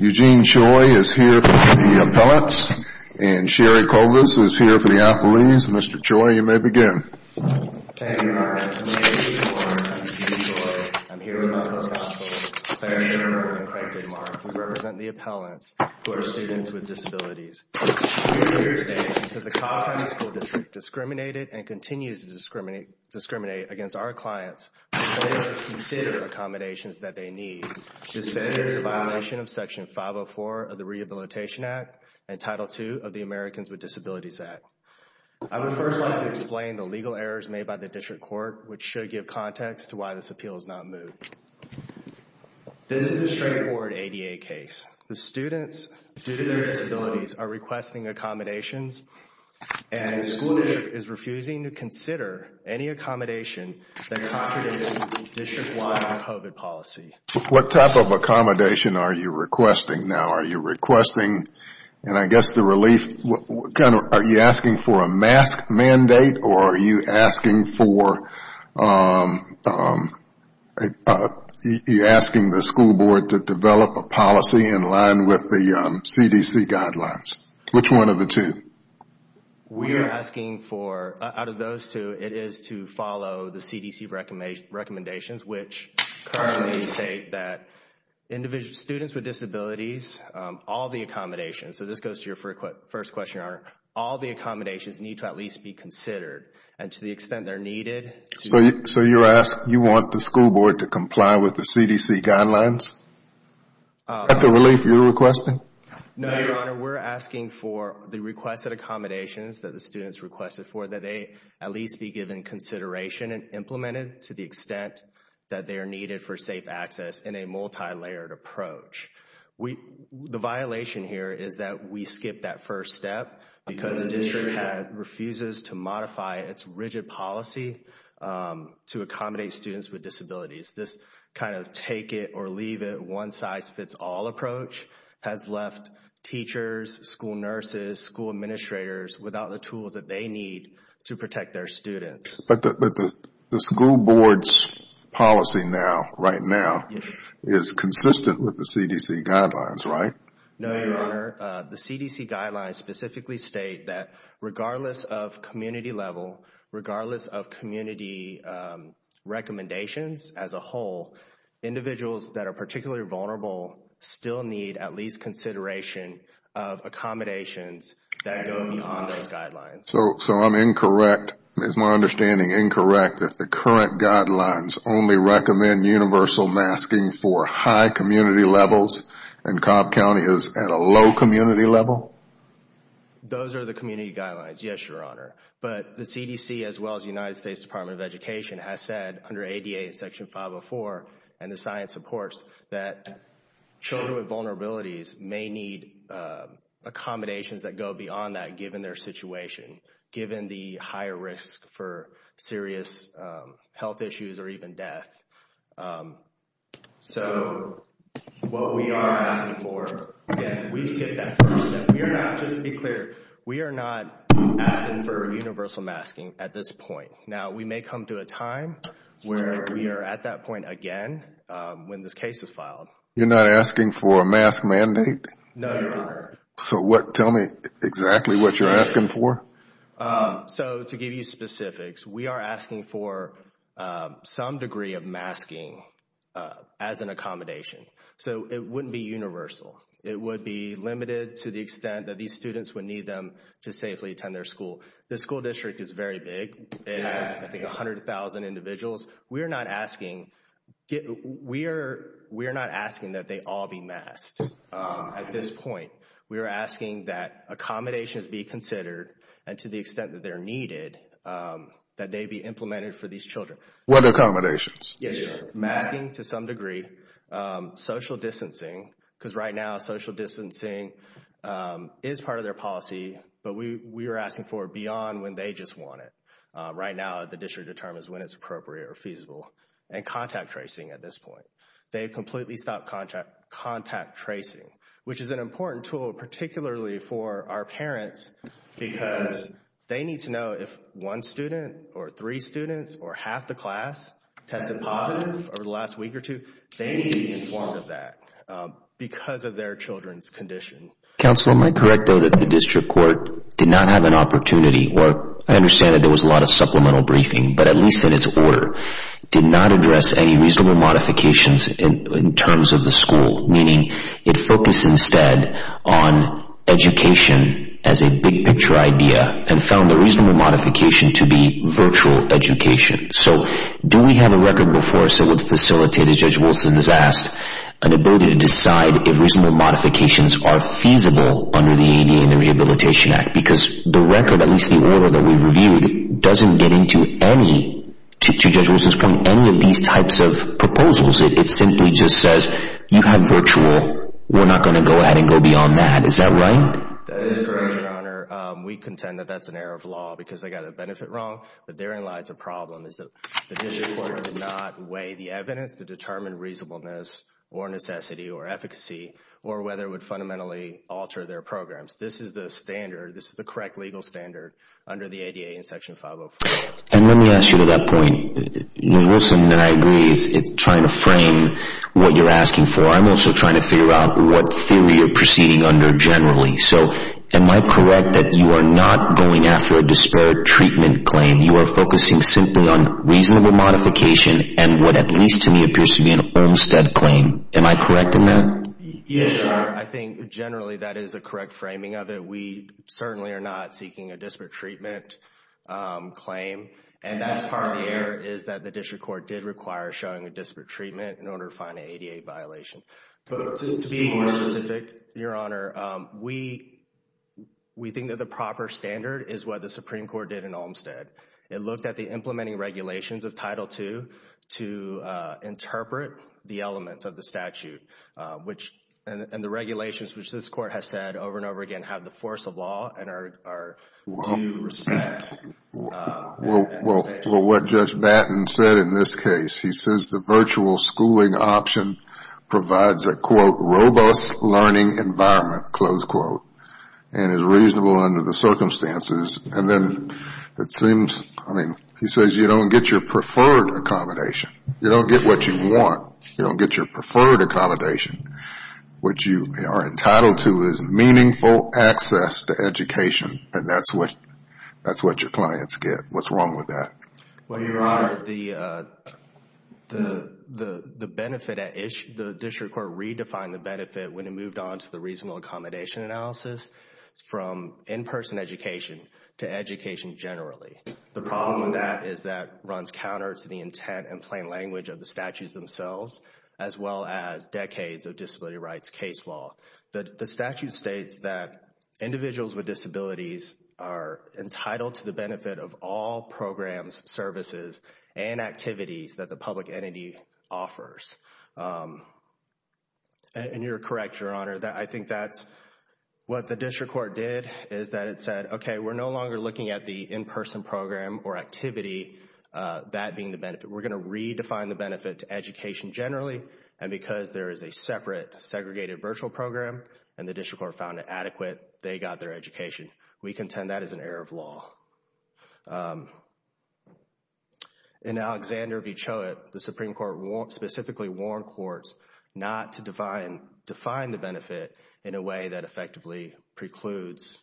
Eugene Choi is here for the appellants, and Sherry Kovas is here for the appellees. Mr. Choi, you may begin. Thank you, Your Honor. My name is Eugene Choi. I'm here with my co-counsel, Clare Shermer, and Frank Dittmar, who represent the appellants who are students with disabilities. I'm here today because the Cobb County School District discriminated and continues to discriminate against our clients when they don't consider accommodations that they need. This is in violation of Section 504 of the Rehabilitation Act and Title II of the Americans with Disabilities Act. I would first like to explain the legal errors made by the district court, which should give context to why this appeal is not moved. This is a straightforward ADA case. The students, due to their disabilities, are requesting accommodations, and the school district is refusing to consider any accommodation that contradicts district-wide COVID policy. What type of accommodation are you requesting now? Are you asking for a mask mandate, or are you asking the school board to develop a policy in line with the CDC guidelines? Which one of the two? We are asking for, out of those two, it is to follow the CDC recommendations, which currently state that students with disabilities, all the accommodations need to at least be considered, and to the extent they are needed. So you are asking, you want the school board to comply with the CDC guidelines? Is that the relief you are requesting? No, Your Honor. We are asking for the requested accommodations that the students requested for, that they at least be given consideration and implemented to the extent that they are needed for safe access in a multi-layered approach. The violation here is that we skipped that first step because the district refuses to modify its rigid policy to accommodate students with disabilities. This kind of take it or leave it, one size fits all approach has left teachers, school But the school board's policy now, right now, is consistent with the CDC guidelines, right? No, Your Honor. The CDC guidelines specifically state that regardless of community level, regardless of community recommendations as a whole, individuals that are particularly vulnerable still need at least consideration of accommodations that go beyond those guidelines. So I am incorrect, is my understanding incorrect that the current guidelines only recommend universal masking for high community levels and Cobb County is at a low community level? Those are the community guidelines, yes, Your Honor. But the CDC as well as the United States Department of Education has said under ADA Section 504 and the science supports that children with vulnerabilities may need accommodations that go beyond that given their situation, given the higher risk for serious health issues or even death. So what we are asking for, again, we skipped that first step. We are not, just to be clear, we are not asking for universal masking at this point. Now we may come to a time where we are at that point again when this case is filed. You're not asking for a mask mandate? No, Your Honor. So what, tell me exactly what you're asking for? So to give you specifics, we are asking for some degree of masking as an accommodation. So it wouldn't be universal. It would be limited to the extent that these students would need them to safely attend their school. The school district is very big. It has I think 100,000 individuals. We are not asking, we are not asking that they all be masked at this point. We are asking that accommodations be considered and to the extent that they are needed, that they be implemented for these children. What accommodations? Yes, Your Honor. Masking to some degree, social distancing, because right now social distancing is part of their policy, but we are asking for it beyond when they just want it. Right now, the district determines when it's appropriate or feasible and contact tracing at this point. They have completely stopped contact tracing, which is an important tool, particularly for our parents because they need to know if one student or three students or half the class tested positive over the last week or two, they need to be informed of that because of their children's condition. Counselor, am I correct though that the district court did not have an opportunity, or I understand that there was a lot of supplemental briefing, but at least in its order, did not address any reasonable modifications in terms of the school, meaning it focused instead on education as a big picture idea and found the reasonable modification to be virtual education. Do we have a record before us that would facilitate, as Judge Wilson has asked, an ability to decide if reasonable modifications are feasible under the ADA and the Rehabilitation Act? Because the record, at least the order that we reviewed, doesn't get into any, to Judge Wilson's point, any of these types of proposals. It simply just says, you have virtual, we're not going to go ahead and go beyond that. Is that right? That is correct, Your Honor. We contend that that's an error of law because they got a benefit wrong, but therein lies a problem is that the district court did not weigh the evidence to determine reasonableness or necessity or efficacy or whether it would fundamentally alter their programs. This is the standard. This is the correct legal standard under the ADA in Section 504. And let me ask you to that point, Judge Wilson and I agree it's trying to frame what you're asking for. I'm also trying to figure out what theory you're proceeding under generally. So am I correct that you are not going after a disparate treatment claim? You are focusing simply on reasonable modification and what at least to me appears to be an Olmstead claim. Am I correct in that? Yes, Your Honor. I think generally that is a correct framing of it. We certainly are not seeking a disparate treatment claim. And that's part of the error is that the district court did require showing a disparate treatment in order to find an ADA violation. But to be more specific, Your Honor, we think that the proper standard is what the Supreme Court did in Olmstead. It looked at the implementing regulations of Title II to interpret the elements of the regulations, which this Court has said over and over again have the force of law and are due respect. Well, what Judge Batten said in this case, he says the virtual schooling option provides a, quote, robust learning environment, close quote, and is reasonable under the circumstances. And then it seems, I mean, he says you don't get your preferred accommodation. You don't get what you want. You don't get your preferred accommodation. What you are entitled to is meaningful access to education, and that's what your clients get. What's wrong with that? Well, Your Honor, the benefit, the district court redefined the benefit when it moved on to the reasonable accommodation analysis from in-person education to education generally. The problem with that is that runs counter to the intent and plain language of the statutes themselves as well as decades of disability rights case law. The statute states that individuals with disabilities are entitled to the benefit of all programs, services, and activities that the public entity offers, and you're correct, Your Honor. I think that's what the district court did is that it said, okay, we're no longer looking at the in-person program or activity, that being the benefit. We're going to redefine the benefit to education generally, and because there is a separate segregated virtual program, and the district court found it adequate, they got their education. We contend that is an error of law. In Alexander v. Choate, the Supreme Court specifically warned courts not to define the benefit in a way that effectively precludes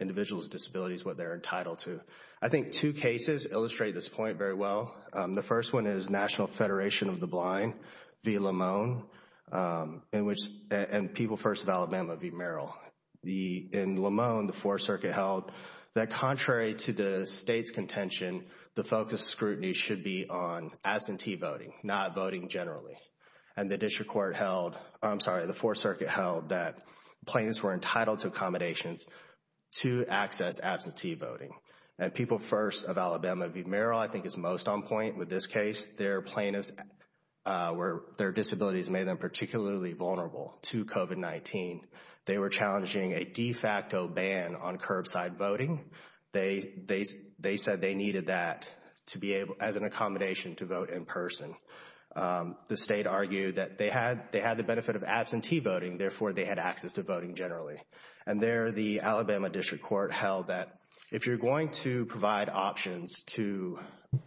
individuals with disabilities what they're entitled to. I think two cases illustrate this point very well. The first one is National Federation of the Blind v. Lamone, and People First of Alabama v. Merrill. In Lamone, the Fourth Circuit held that contrary to the state's contention, the focus scrutiny should be on absentee voting, not voting generally. And the district court held, I'm sorry, the Fourth Circuit held that plaintiffs were entitled to accommodations to access absentee voting. And People First of Alabama v. Merrill, I think, is most on point with this case. Their plaintiffs, their disabilities made them particularly vulnerable to COVID-19. They were challenging a de facto ban on curbside voting. They said they needed that to be able, as an accommodation, to vote in person. The state argued that they had the benefit of absentee voting, therefore, they had access to voting generally. And there, the Alabama district court held that if you're going to provide options to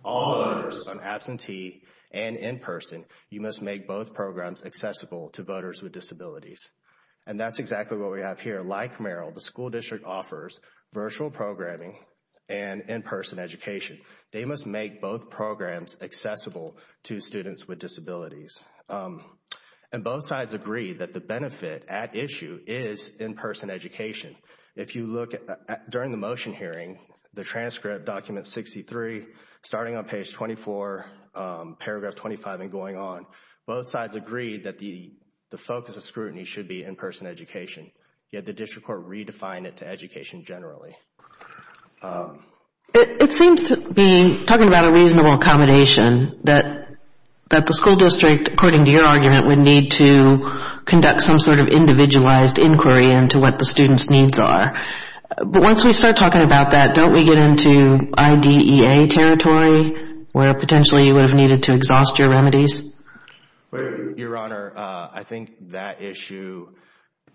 all voters on absentee and in person, you must make both programs accessible to voters with disabilities. And that's exactly what we have here. Like Merrill, the school district offers virtual programming and in-person education. They must make both programs accessible to students with disabilities. And both sides agreed that the benefit at issue is in-person education. If you look at, during the motion hearing, the transcript document 63, starting on page 24, paragraph 25 and going on, both sides agreed that the focus of scrutiny should be in-person education, yet the district court redefined it to education generally. It seems to be, talking about a reasonable accommodation, that the school district, according to your argument, would need to conduct some sort of individualized inquiry into what the students' needs are. But once we start talking about that, don't we get into IDEA territory, where potentially you would have needed to exhaust your remedies? Your Honor, I think that issue,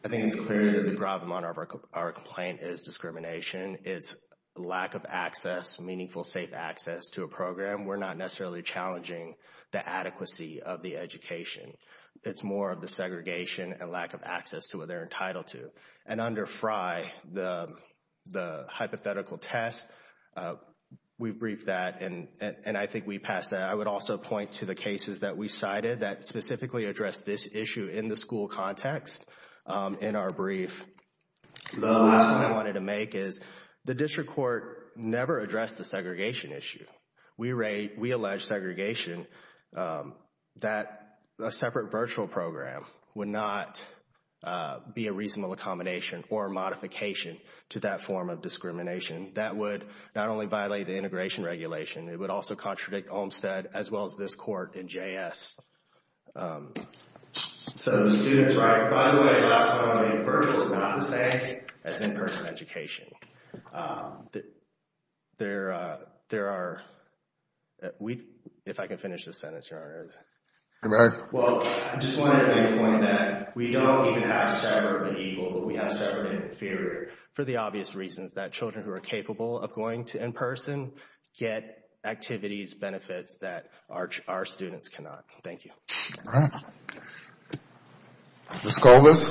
I think it's clear that the gravamonte of our complaint is discrimination. It's lack of access, meaningful, safe access to a program. We're not necessarily challenging the adequacy of the education. It's more of the segregation and lack of access to what they're entitled to. And under FRI, the hypothetical test, we briefed that and I think we passed that. I would also point to the cases that we cited that specifically addressed this issue in the school context in our brief. The last point I wanted to make is the district court never addressed the segregation issue. We allege segregation, that a separate virtual program would not be a reasonable accommodation or modification to that form of discrimination. That would not only violate the integration regulation, it would also contradict Olmsted as well as this court in JS. So the students write, by the way, the last point I made, virtual is not the same as in-person education. There are, if I can finish this sentence, Your Honor. Go ahead. Well, I just wanted to make a point that we don't even have separate but equal, but we have separate but inferior for the obvious reasons that children who are capable of going to in-person get activities, benefits that our students cannot. Thank you. All right. Ms. Culvis.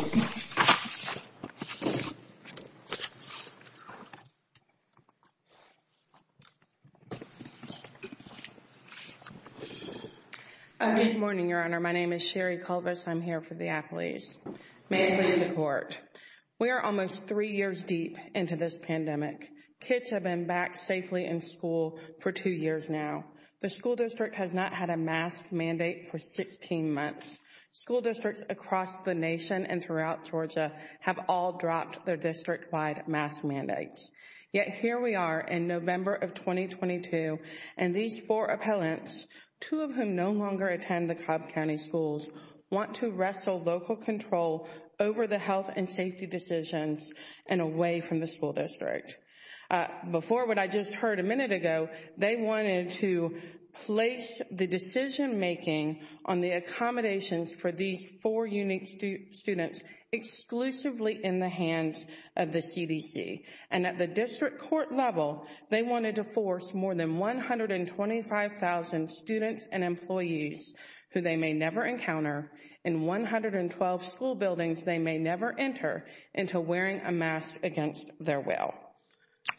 Good morning, Your Honor. My name is Sherry Culvis. I'm here for the appeals. May it please the Court. We are almost three years deep into this pandemic. Kids have been back safely in school for two years now. The school district has not had a mask mandate for 16 months. School districts across the nation and throughout Georgia have all dropped their district-wide mask mandates. Yet here we are in November of 2022, and these four appellants, two of whom no longer attend the Cobb County schools, want to wrestle local control over the health and safety decisions and away from the school district. Before what I just heard a minute ago, they wanted to place the decision-making on the accommodations for these four unique students exclusively in the hands of the CDC. And at the district court level, they wanted to force more than 125,000 students and employees who they may never encounter in 112 school buildings they may never enter into wearing a mask against their will.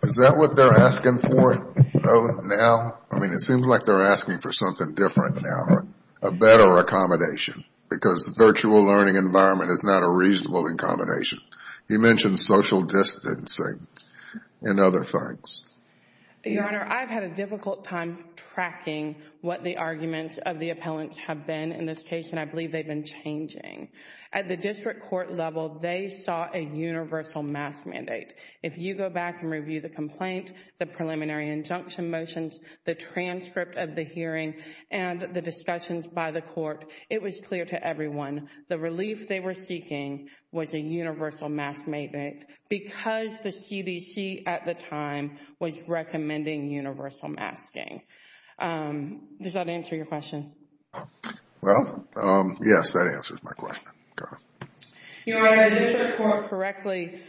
Is that what they're asking for now? I mean, it seems like they're asking for something different now, a better accommodation, because the virtual learning environment is not a reasonable accommodation. You mentioned social distancing and other things. Your Honor, I've had a difficult time tracking what the arguments of the appellants have been in this case, and I believe they've been changing. At the district court level, they saw a universal mask mandate. If you go back and review the complaint, the preliminary injunction motions, the transcript of the hearing, and the discussions by the court, it was clear to everyone the relief they were seeking was a universal mask mandate because the CDC at the time was recommending universal masking. Does that answer your question? Well, yes, that answers my question. Your Honor, the district court correctly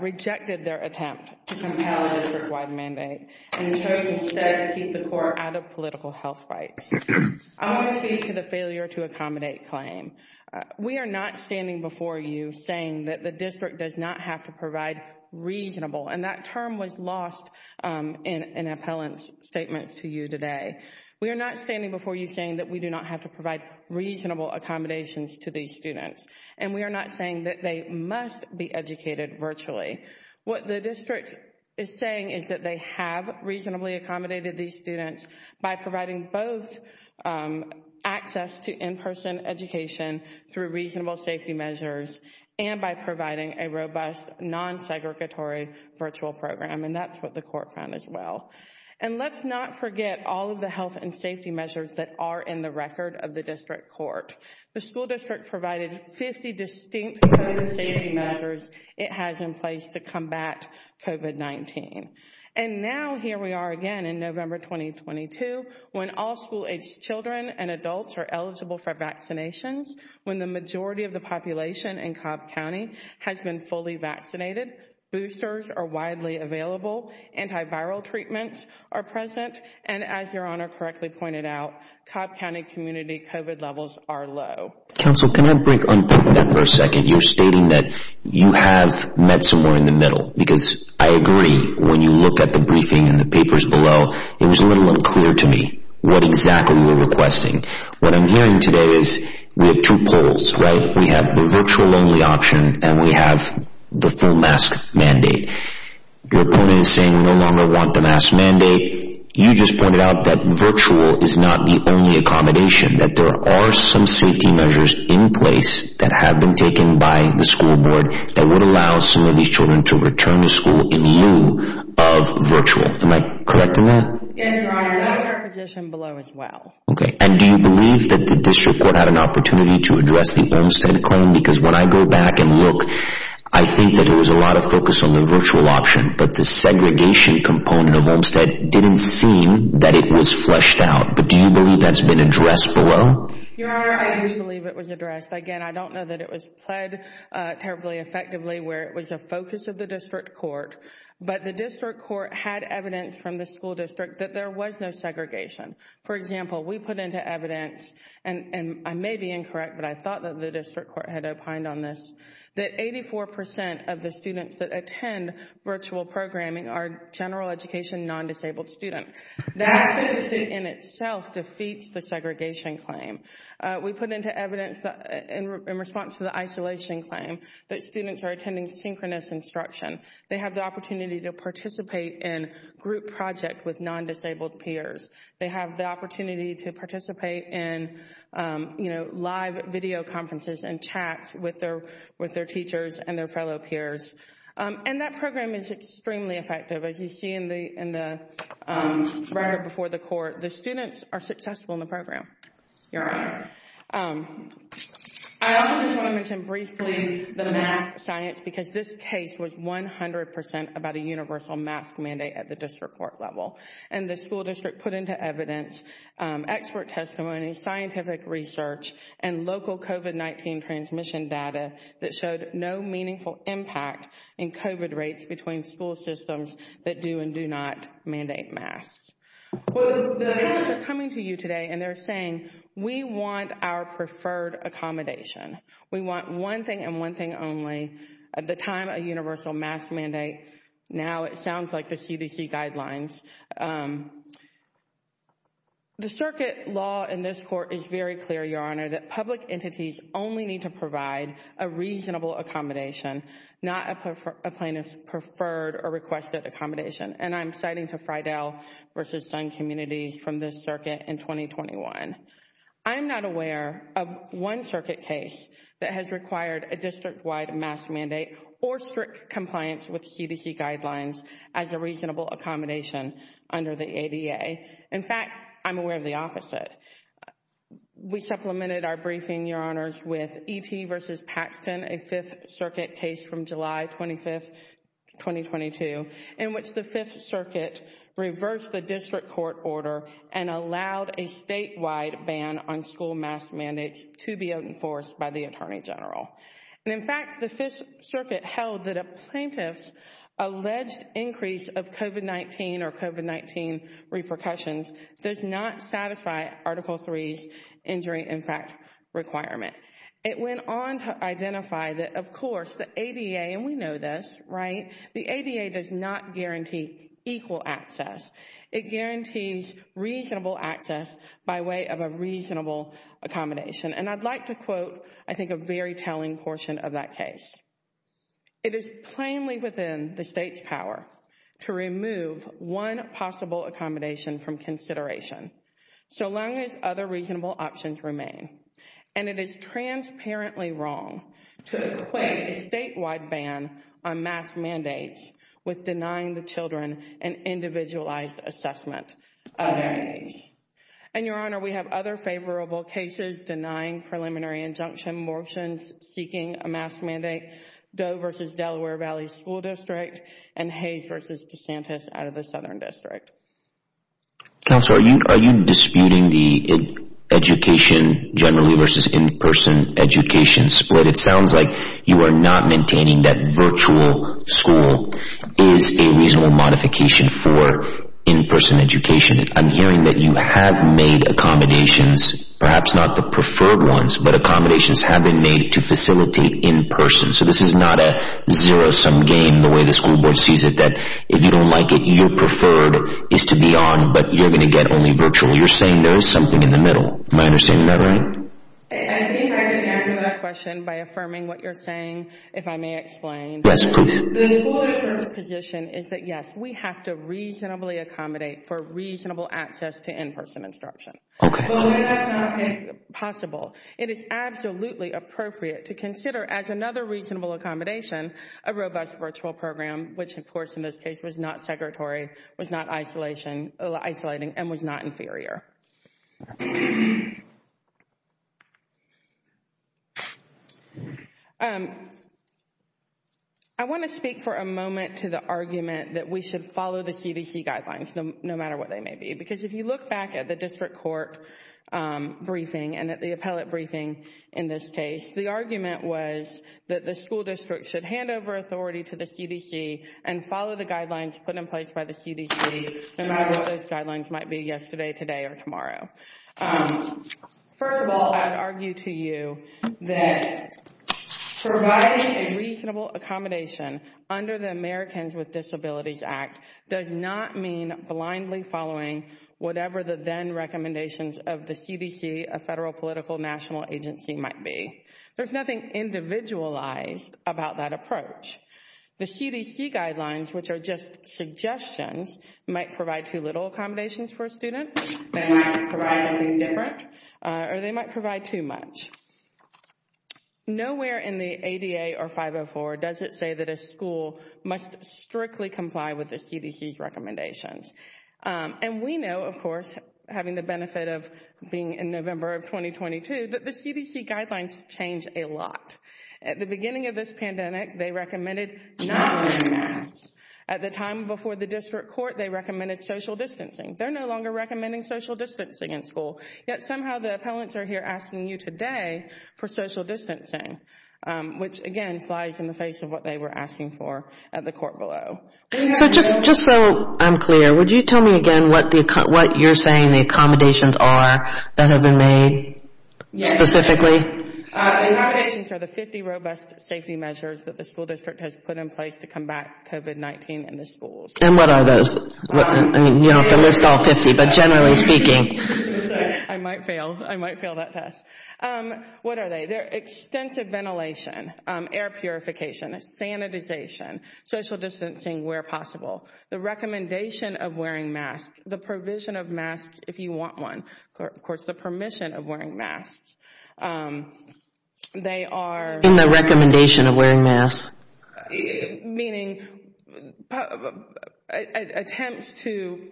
rejected their attempt to compel a district-wide mandate and chose instead to keep the court out of political health fights. I want to speak to the failure to accommodate claim. We are not standing before you saying that the district does not have to provide reasonable, and that term was lost in an appellant's statements to you today. We are not standing before you saying that we do not have to provide reasonable accommodations to these students, and we are not saying that they must be educated virtually. What the district is saying is that they have reasonably accommodated these students by providing both access to in-person education through reasonable safety measures and by providing a robust, non-segregatory virtual program, and that's what the court found as well. And let's not forget all of the health and safety measures that are in the record of the district court. The school district provided 50 distinct COVID safety measures it has in place to combat COVID-19. And now here we are again in November 2022, when all school-age children and adults are eligible for vaccinations, when the majority of the population in Cobb County has been fully vaccinated, boosters are widely available, antiviral treatments are present, and as your honor correctly pointed out, Cobb County community COVID levels are low. Counsel, can I break on that for a second? You're stating that you have met somewhere in the middle, because I agree. When you look at the briefing and the papers below, it was a little unclear to me what exactly you're requesting. What I'm hearing today is we have two polls, right? We have the virtual only option and we have the full mask mandate. Your opponent is saying no longer want the mask mandate. You just pointed out that virtual is not the only accommodation, that there are some safety measures in place that have been taken by the school board that would allow some of these children to return to school in lieu of virtual. Am I correct in that? Yes, your honor. That's our position below as well. Okay. And do you believe that the district court had an opportunity to address the Olmstead claim? Because when I go back and look, I think that there was a lot of focus on the virtual option, but the segregation component of Olmstead didn't seem that it was fleshed out. But do you believe that's been addressed below? Your honor, I do believe it was addressed. Again, I don't know that it was played terribly effectively where it was a focus of the district court, but the district court had evidence from the school district that there was no segregation. For example, we put into evidence, and I may be incorrect, but I thought that the district court had opined on this, that 84% of the students that attend virtual programming are general education, non-disabled students. That statistic in itself defeats the segregation claim. We put into evidence in response to the isolation claim that students are attending synchronous instruction. They have the opportunity to participate in group project with non-disabled peers. They have the opportunity to participate in live video conferences and chats with their teachers and their fellow peers. And that program is extremely effective. As you see in the record before the court, the students are successful in the program. Your honor, I also just want to mention briefly the mask science because this case was 100% about a universal mask mandate at the district court level. And the school district put into evidence, expert testimony, scientific research, and in COVID rates between school systems that do and do not mandate masks. Well, they're coming to you today and they're saying, we want our preferred accommodation. We want one thing and one thing only at the time, a universal mask mandate. Now it sounds like the CDC guidelines. The circuit law in this court is very clear, your honor, that public entities only need to provide a reasonable accommodation, not a plaintiff's preferred or requested accommodation. And I'm citing to Fridell versus Sun Communities from this circuit in 2021. I'm not aware of one circuit case that has required a district wide mask mandate or strict compliance with CDC guidelines as a reasonable accommodation under the ADA. In fact, I'm aware of the opposite. We supplemented our briefing, your honors, with E.T. versus Paxton, a 5th Circuit case from July 25th, 2022, in which the 5th Circuit reversed the district court order and allowed a statewide ban on school mask mandates to be enforced by the attorney general. And in fact, the 5th Circuit held that a plaintiff's alleged increase of COVID-19 or COVID-19 repercussions does not satisfy Article 3's injury impact requirement. It went on to identify that, of course, the ADA, and we know this, right, the ADA does not guarantee equal access. It guarantees reasonable access by way of a reasonable accommodation. And I'd like to quote, I think, a very telling portion of that case. It is plainly within the state's power to remove one possible accommodation from consideration so long as other reasonable options remain. And it is transparently wrong to equate a statewide ban on mask mandates with denying the children an individualized assessment of their needs. And, your honor, we have other favorable cases denying preliminary injunction, motions seeking a mask mandate, Doe v. Delaware Valley School District, and Hayes v. DeSantis out of the Southern District. Counselor, are you disputing the education generally versus in-person education split? It sounds like you are not maintaining that virtual school is a reasonable modification for in-person education. I'm hearing that you have made accommodations, perhaps not the preferred ones, but accommodations have been made to facilitate in-person. So this is not a zero-sum game, the way the school board sees it, that if you don't like it, your preferred is to be on, but you're going to get only virtual. You're saying there is something in the middle. Am I understanding that right? I think I can answer that question by affirming what you're saying, if I may explain. Yes, please. The school district's position is that, yes, we have to reasonably accommodate for reasonable access to in-person instruction. Okay. But that's not possible. It is absolutely appropriate to consider, as another reasonable accommodation, a robust virtual program, which, of course, in this case was not secretory, was not isolating, and was not inferior. I want to speak for a moment to the argument that we should follow the CDC guidelines, no matter what they may be. Because if you look back at the district court briefing, and at the appellate briefing in this case, the argument was that the school district should hand over authority to the CDC and follow the guidelines put in place by the CDC, no matter what those guidelines might be yesterday, today, or tomorrow. First of all, I'd argue to you that providing a reasonable accommodation under the Americans with Disabilities Act does not mean blindly following whatever the then-recommendations of the CDC, a federal political national agency, might be. There's nothing individualized about that approach. The CDC guidelines, which are just suggestions, might provide too little accommodations for a student, they might provide something different, or they might provide too much. Nowhere in the ADA or 504 does it say that a school must strictly comply with the CDC's recommendations. And we know, of course, having the benefit of being in November of 2022, that the CDC guidelines changed a lot. At the beginning of this pandemic, they recommended non-masks. At the time before the district court, they recommended social distancing. They're no longer recommending social distancing in school. Yet somehow the appellants are here asking you today for social distancing, which again flies in the face of what they were asking for at the court below. So just so I'm clear, would you tell me again what you're saying the accommodations are that have been made specifically? The accommodations are the 50 robust safety measures that the school district has put in place to combat COVID-19 in the schools. And what are those? You don't have to list all 50, but generally speaking. I might fail. I might fail that test. What are they? They're extensive ventilation, air purification, sanitization, social distancing where possible. The recommendation of wearing masks, the provision of masks if you want one, of course, the permission of wearing masks. They are. In the recommendation of wearing masks. Meaning attempts to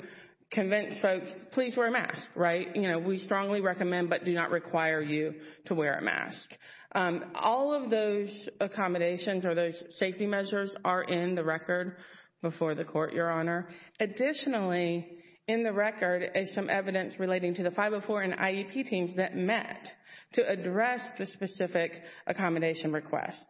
convince folks, please wear a mask, right? We strongly recommend, but do not require you to wear a mask. All of those accommodations or those safety measures are in the record before the court, Your Honor. Additionally, in the record is some evidence relating to the 504 and IEP teams that met to address the specific accommodation requests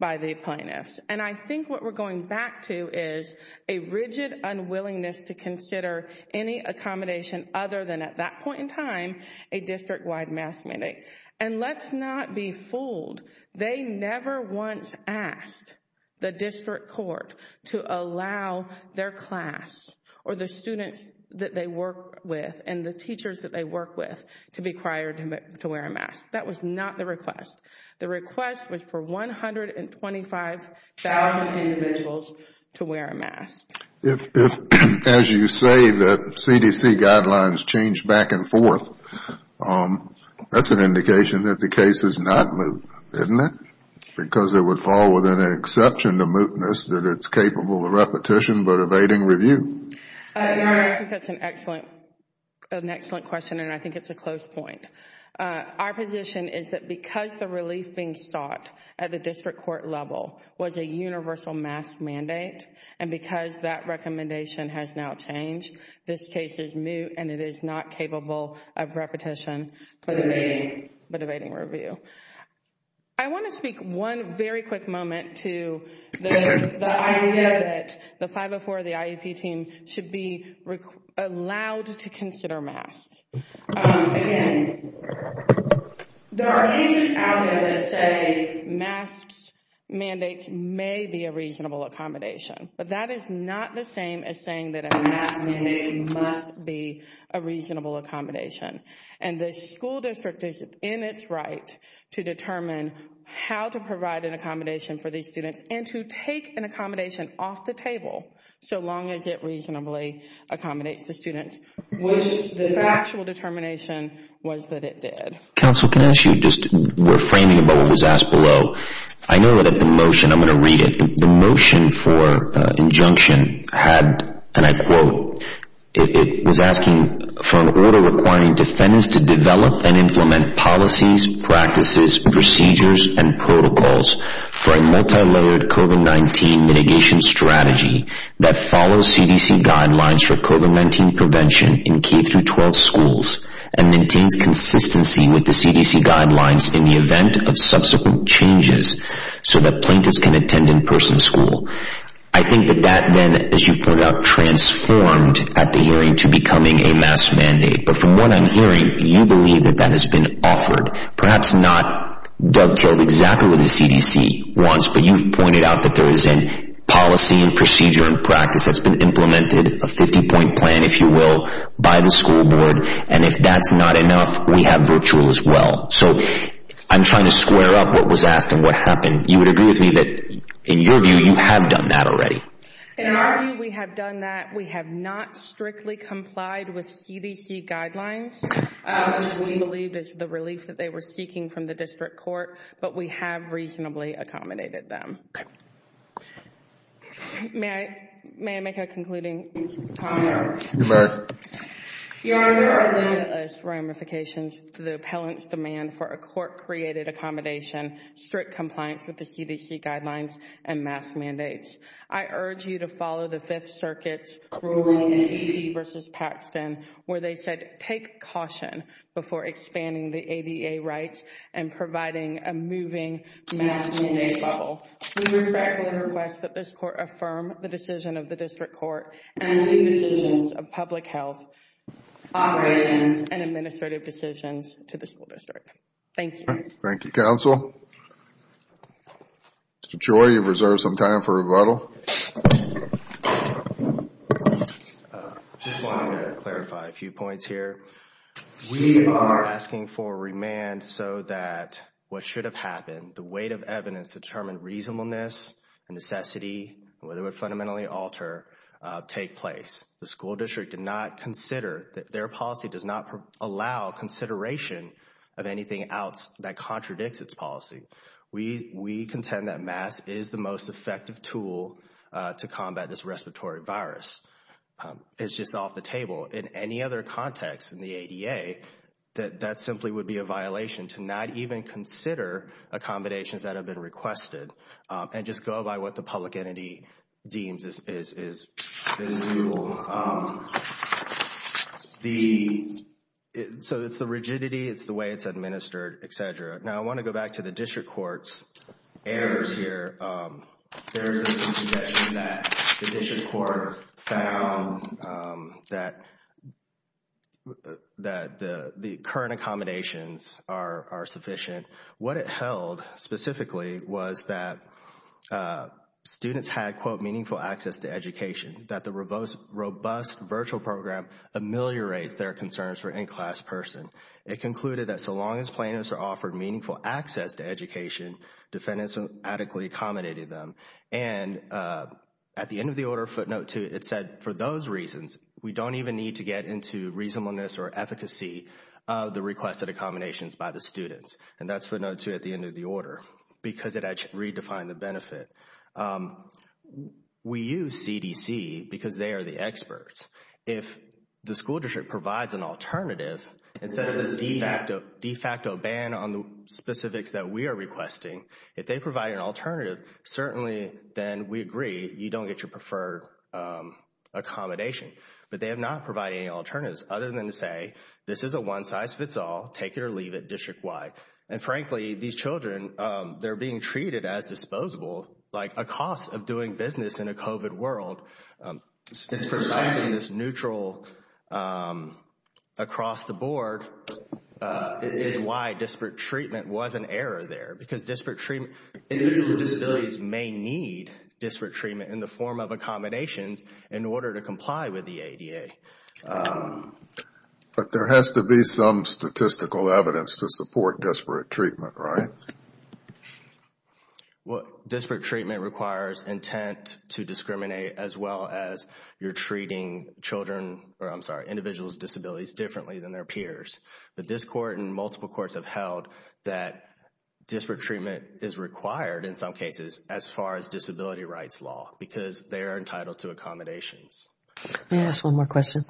by the plaintiffs. And I think what we're going back to is a rigid unwillingness to consider any accommodation other than at that point in time, a district-wide mask mandate. And let's not be fooled. They never once asked the district court to allow their class or the students that they work with and the teachers that they work with to be required to wear a mask. That was not the request. The request was for 125,000 individuals to wear a mask. If, as you say, the CDC guidelines change back and forth, that's an indication that the case is not moot, isn't it? Because it would fall within an exception to mootness that it's capable of repetition but evading review. I think that's an excellent question and I think it's a close point. Our position is that because the relief being sought at the district court level was a universal mask mandate and because that recommendation has now changed, this case is moot and it is not capable of repetition but evading review. I want to speak one very quick moment to the idea that the 504, the IEP team should be allowed to consider masks. Again, there are cases out there that say masks mandates may be a reasonable accommodation but that is not the same as saying that a mask mandate must be a reasonable accommodation and the school district is in its right to determine how to provide an accommodation for these students and to take an accommodation off the table so long as it reasonably accommodates the students, which the actual determination was that it did. Counsel, can I ask you, just reframing about what was asked below, I know that the motion, I'm going to read it, the motion for injunction had, and I quote, it was asking for an order requiring defendants to develop and implement policies, practices, procedures, and protocols for a multilayered COVID-19 mitigation strategy that follows CDC guidelines for COVID-19 prevention in K-12 schools and maintains consistency with the CDC guidelines in the event of subsequent changes so that plaintiffs can attend in-person school. I think that that then, as you've pointed out, transformed at the hearing to becoming a mask mandate, but from what I'm hearing, you believe that that has been offered, perhaps not dovetailed exactly what the CDC wants, but you've pointed out that there is a policy and procedure and practice that's been implemented, a 50-point plan, if you will, by the school board, and if that's not enough, we have virtual as well. So I'm trying to square up what was asked and what happened. You would agree with me that, in your view, you have done that already? In our view, we have done that. We have not strictly complied with CDC guidelines, which we believed is the relief that they were seeking from the district court, but we have reasonably accommodated them. May I make a concluding comment? You may. Your Honor, there are limitless ramifications to the appellant's demand for a court-created accommodation, strict compliance with the CDC guidelines, and mask mandates. I urge you to follow the Fifth Circuit's ruling in DC v. Paxton, where they said, take caution before expanding the ADA rights and providing a moving mask mandate level. We respectfully request that this court affirm the decision of the district court and leave the decisions of public health operations and administrative decisions to the school district. Thank you. Thank you, counsel. Mr. Choi, you've reserved some time for rebuttal. I just wanted to clarify a few points here. We are asking for remand so that what should have happened, the weight of evidence to determine reasonableness and necessity, whether it would fundamentally alter, take place. The school district did not consider, their policy does not allow consideration of anything else that contradicts its policy. We contend that masks is the most effective tool to combat this respiratory virus. It's just off the table. In any other context in the ADA, that simply would be a violation to not even consider accommodations that have been requested and just go by what the public entity deems is the rule. So it's the rigidity, it's the way it's administered, etc. Now, I want to go back to the district court's errors here. There is a suggestion that the district court found that the current accommodations are sufficient. What it held specifically was that students had, quote, meaningful access to education, that the robust virtual program ameliorates their concerns for in-class person. It concluded that so long as plaintiffs are offered meaningful access to education, defendants adequately accommodated them. And at the end of the order, footnote two, it said, for those reasons, we don't even need to get into reasonableness or efficacy of the requested accommodations by the students. And that's footnote two at the end of the order because it actually redefined the benefit. We use CDC because they are the experts. If the school district provides an alternative, instead of this de facto ban on the specifics that we are requesting, if they provide an alternative, certainly then we agree, you don't get your preferred accommodation. But they have not provided any alternatives other than to say, this is a one size fits all, take it or leave it district wide. And frankly, these children, they're being treated as disposable, like a cost of doing business in a COVID world. It's precisely this neutral across the board is why disparate treatment was an error there. Because disparate treatment, individuals with disabilities may need disparate treatment in the form of accommodations in order to comply with the ADA. But there has to be some statistical evidence to support disparate treatment, right? Well, disparate treatment requires intent to discriminate as well as you're treating children, or I'm sorry, individuals with disabilities differently than their peers. But this court and multiple courts have held that disparate treatment is required in some cases as far as disability rights law because they are entitled to accommodations. May I ask one more question?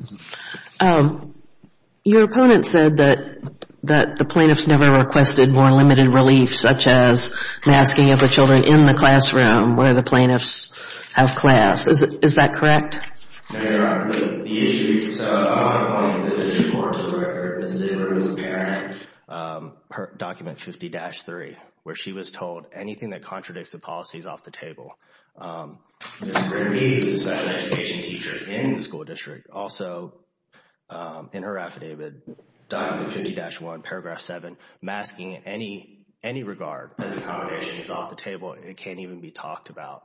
Your opponent said that the plaintiffs never requested more limited relief, such as masking of the children in the classroom where the plaintiffs have class. Is that correct? No, Your Honor. The issue, so my point, the district court's record, the city court was barren per document 50-3, where she was told anything that contradicts the policy is off the table. Ms. Grimby is a special education teacher in the school district. Also, in her affidavit, document 50-1, paragraph 7, masking in any regard as an accommodation is off the table. It can't even be talked about.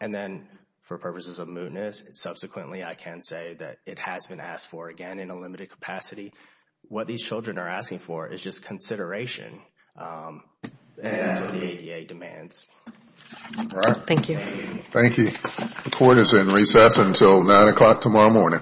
And then for purposes of mootness, subsequently, I can say that it has been asked for, again, in a limited capacity. What these children are asking for is just consideration and that's what the ADA demands. All right. Thank you. Thank you. The court is in recess until 9 o'clock tomorrow morning. All rise.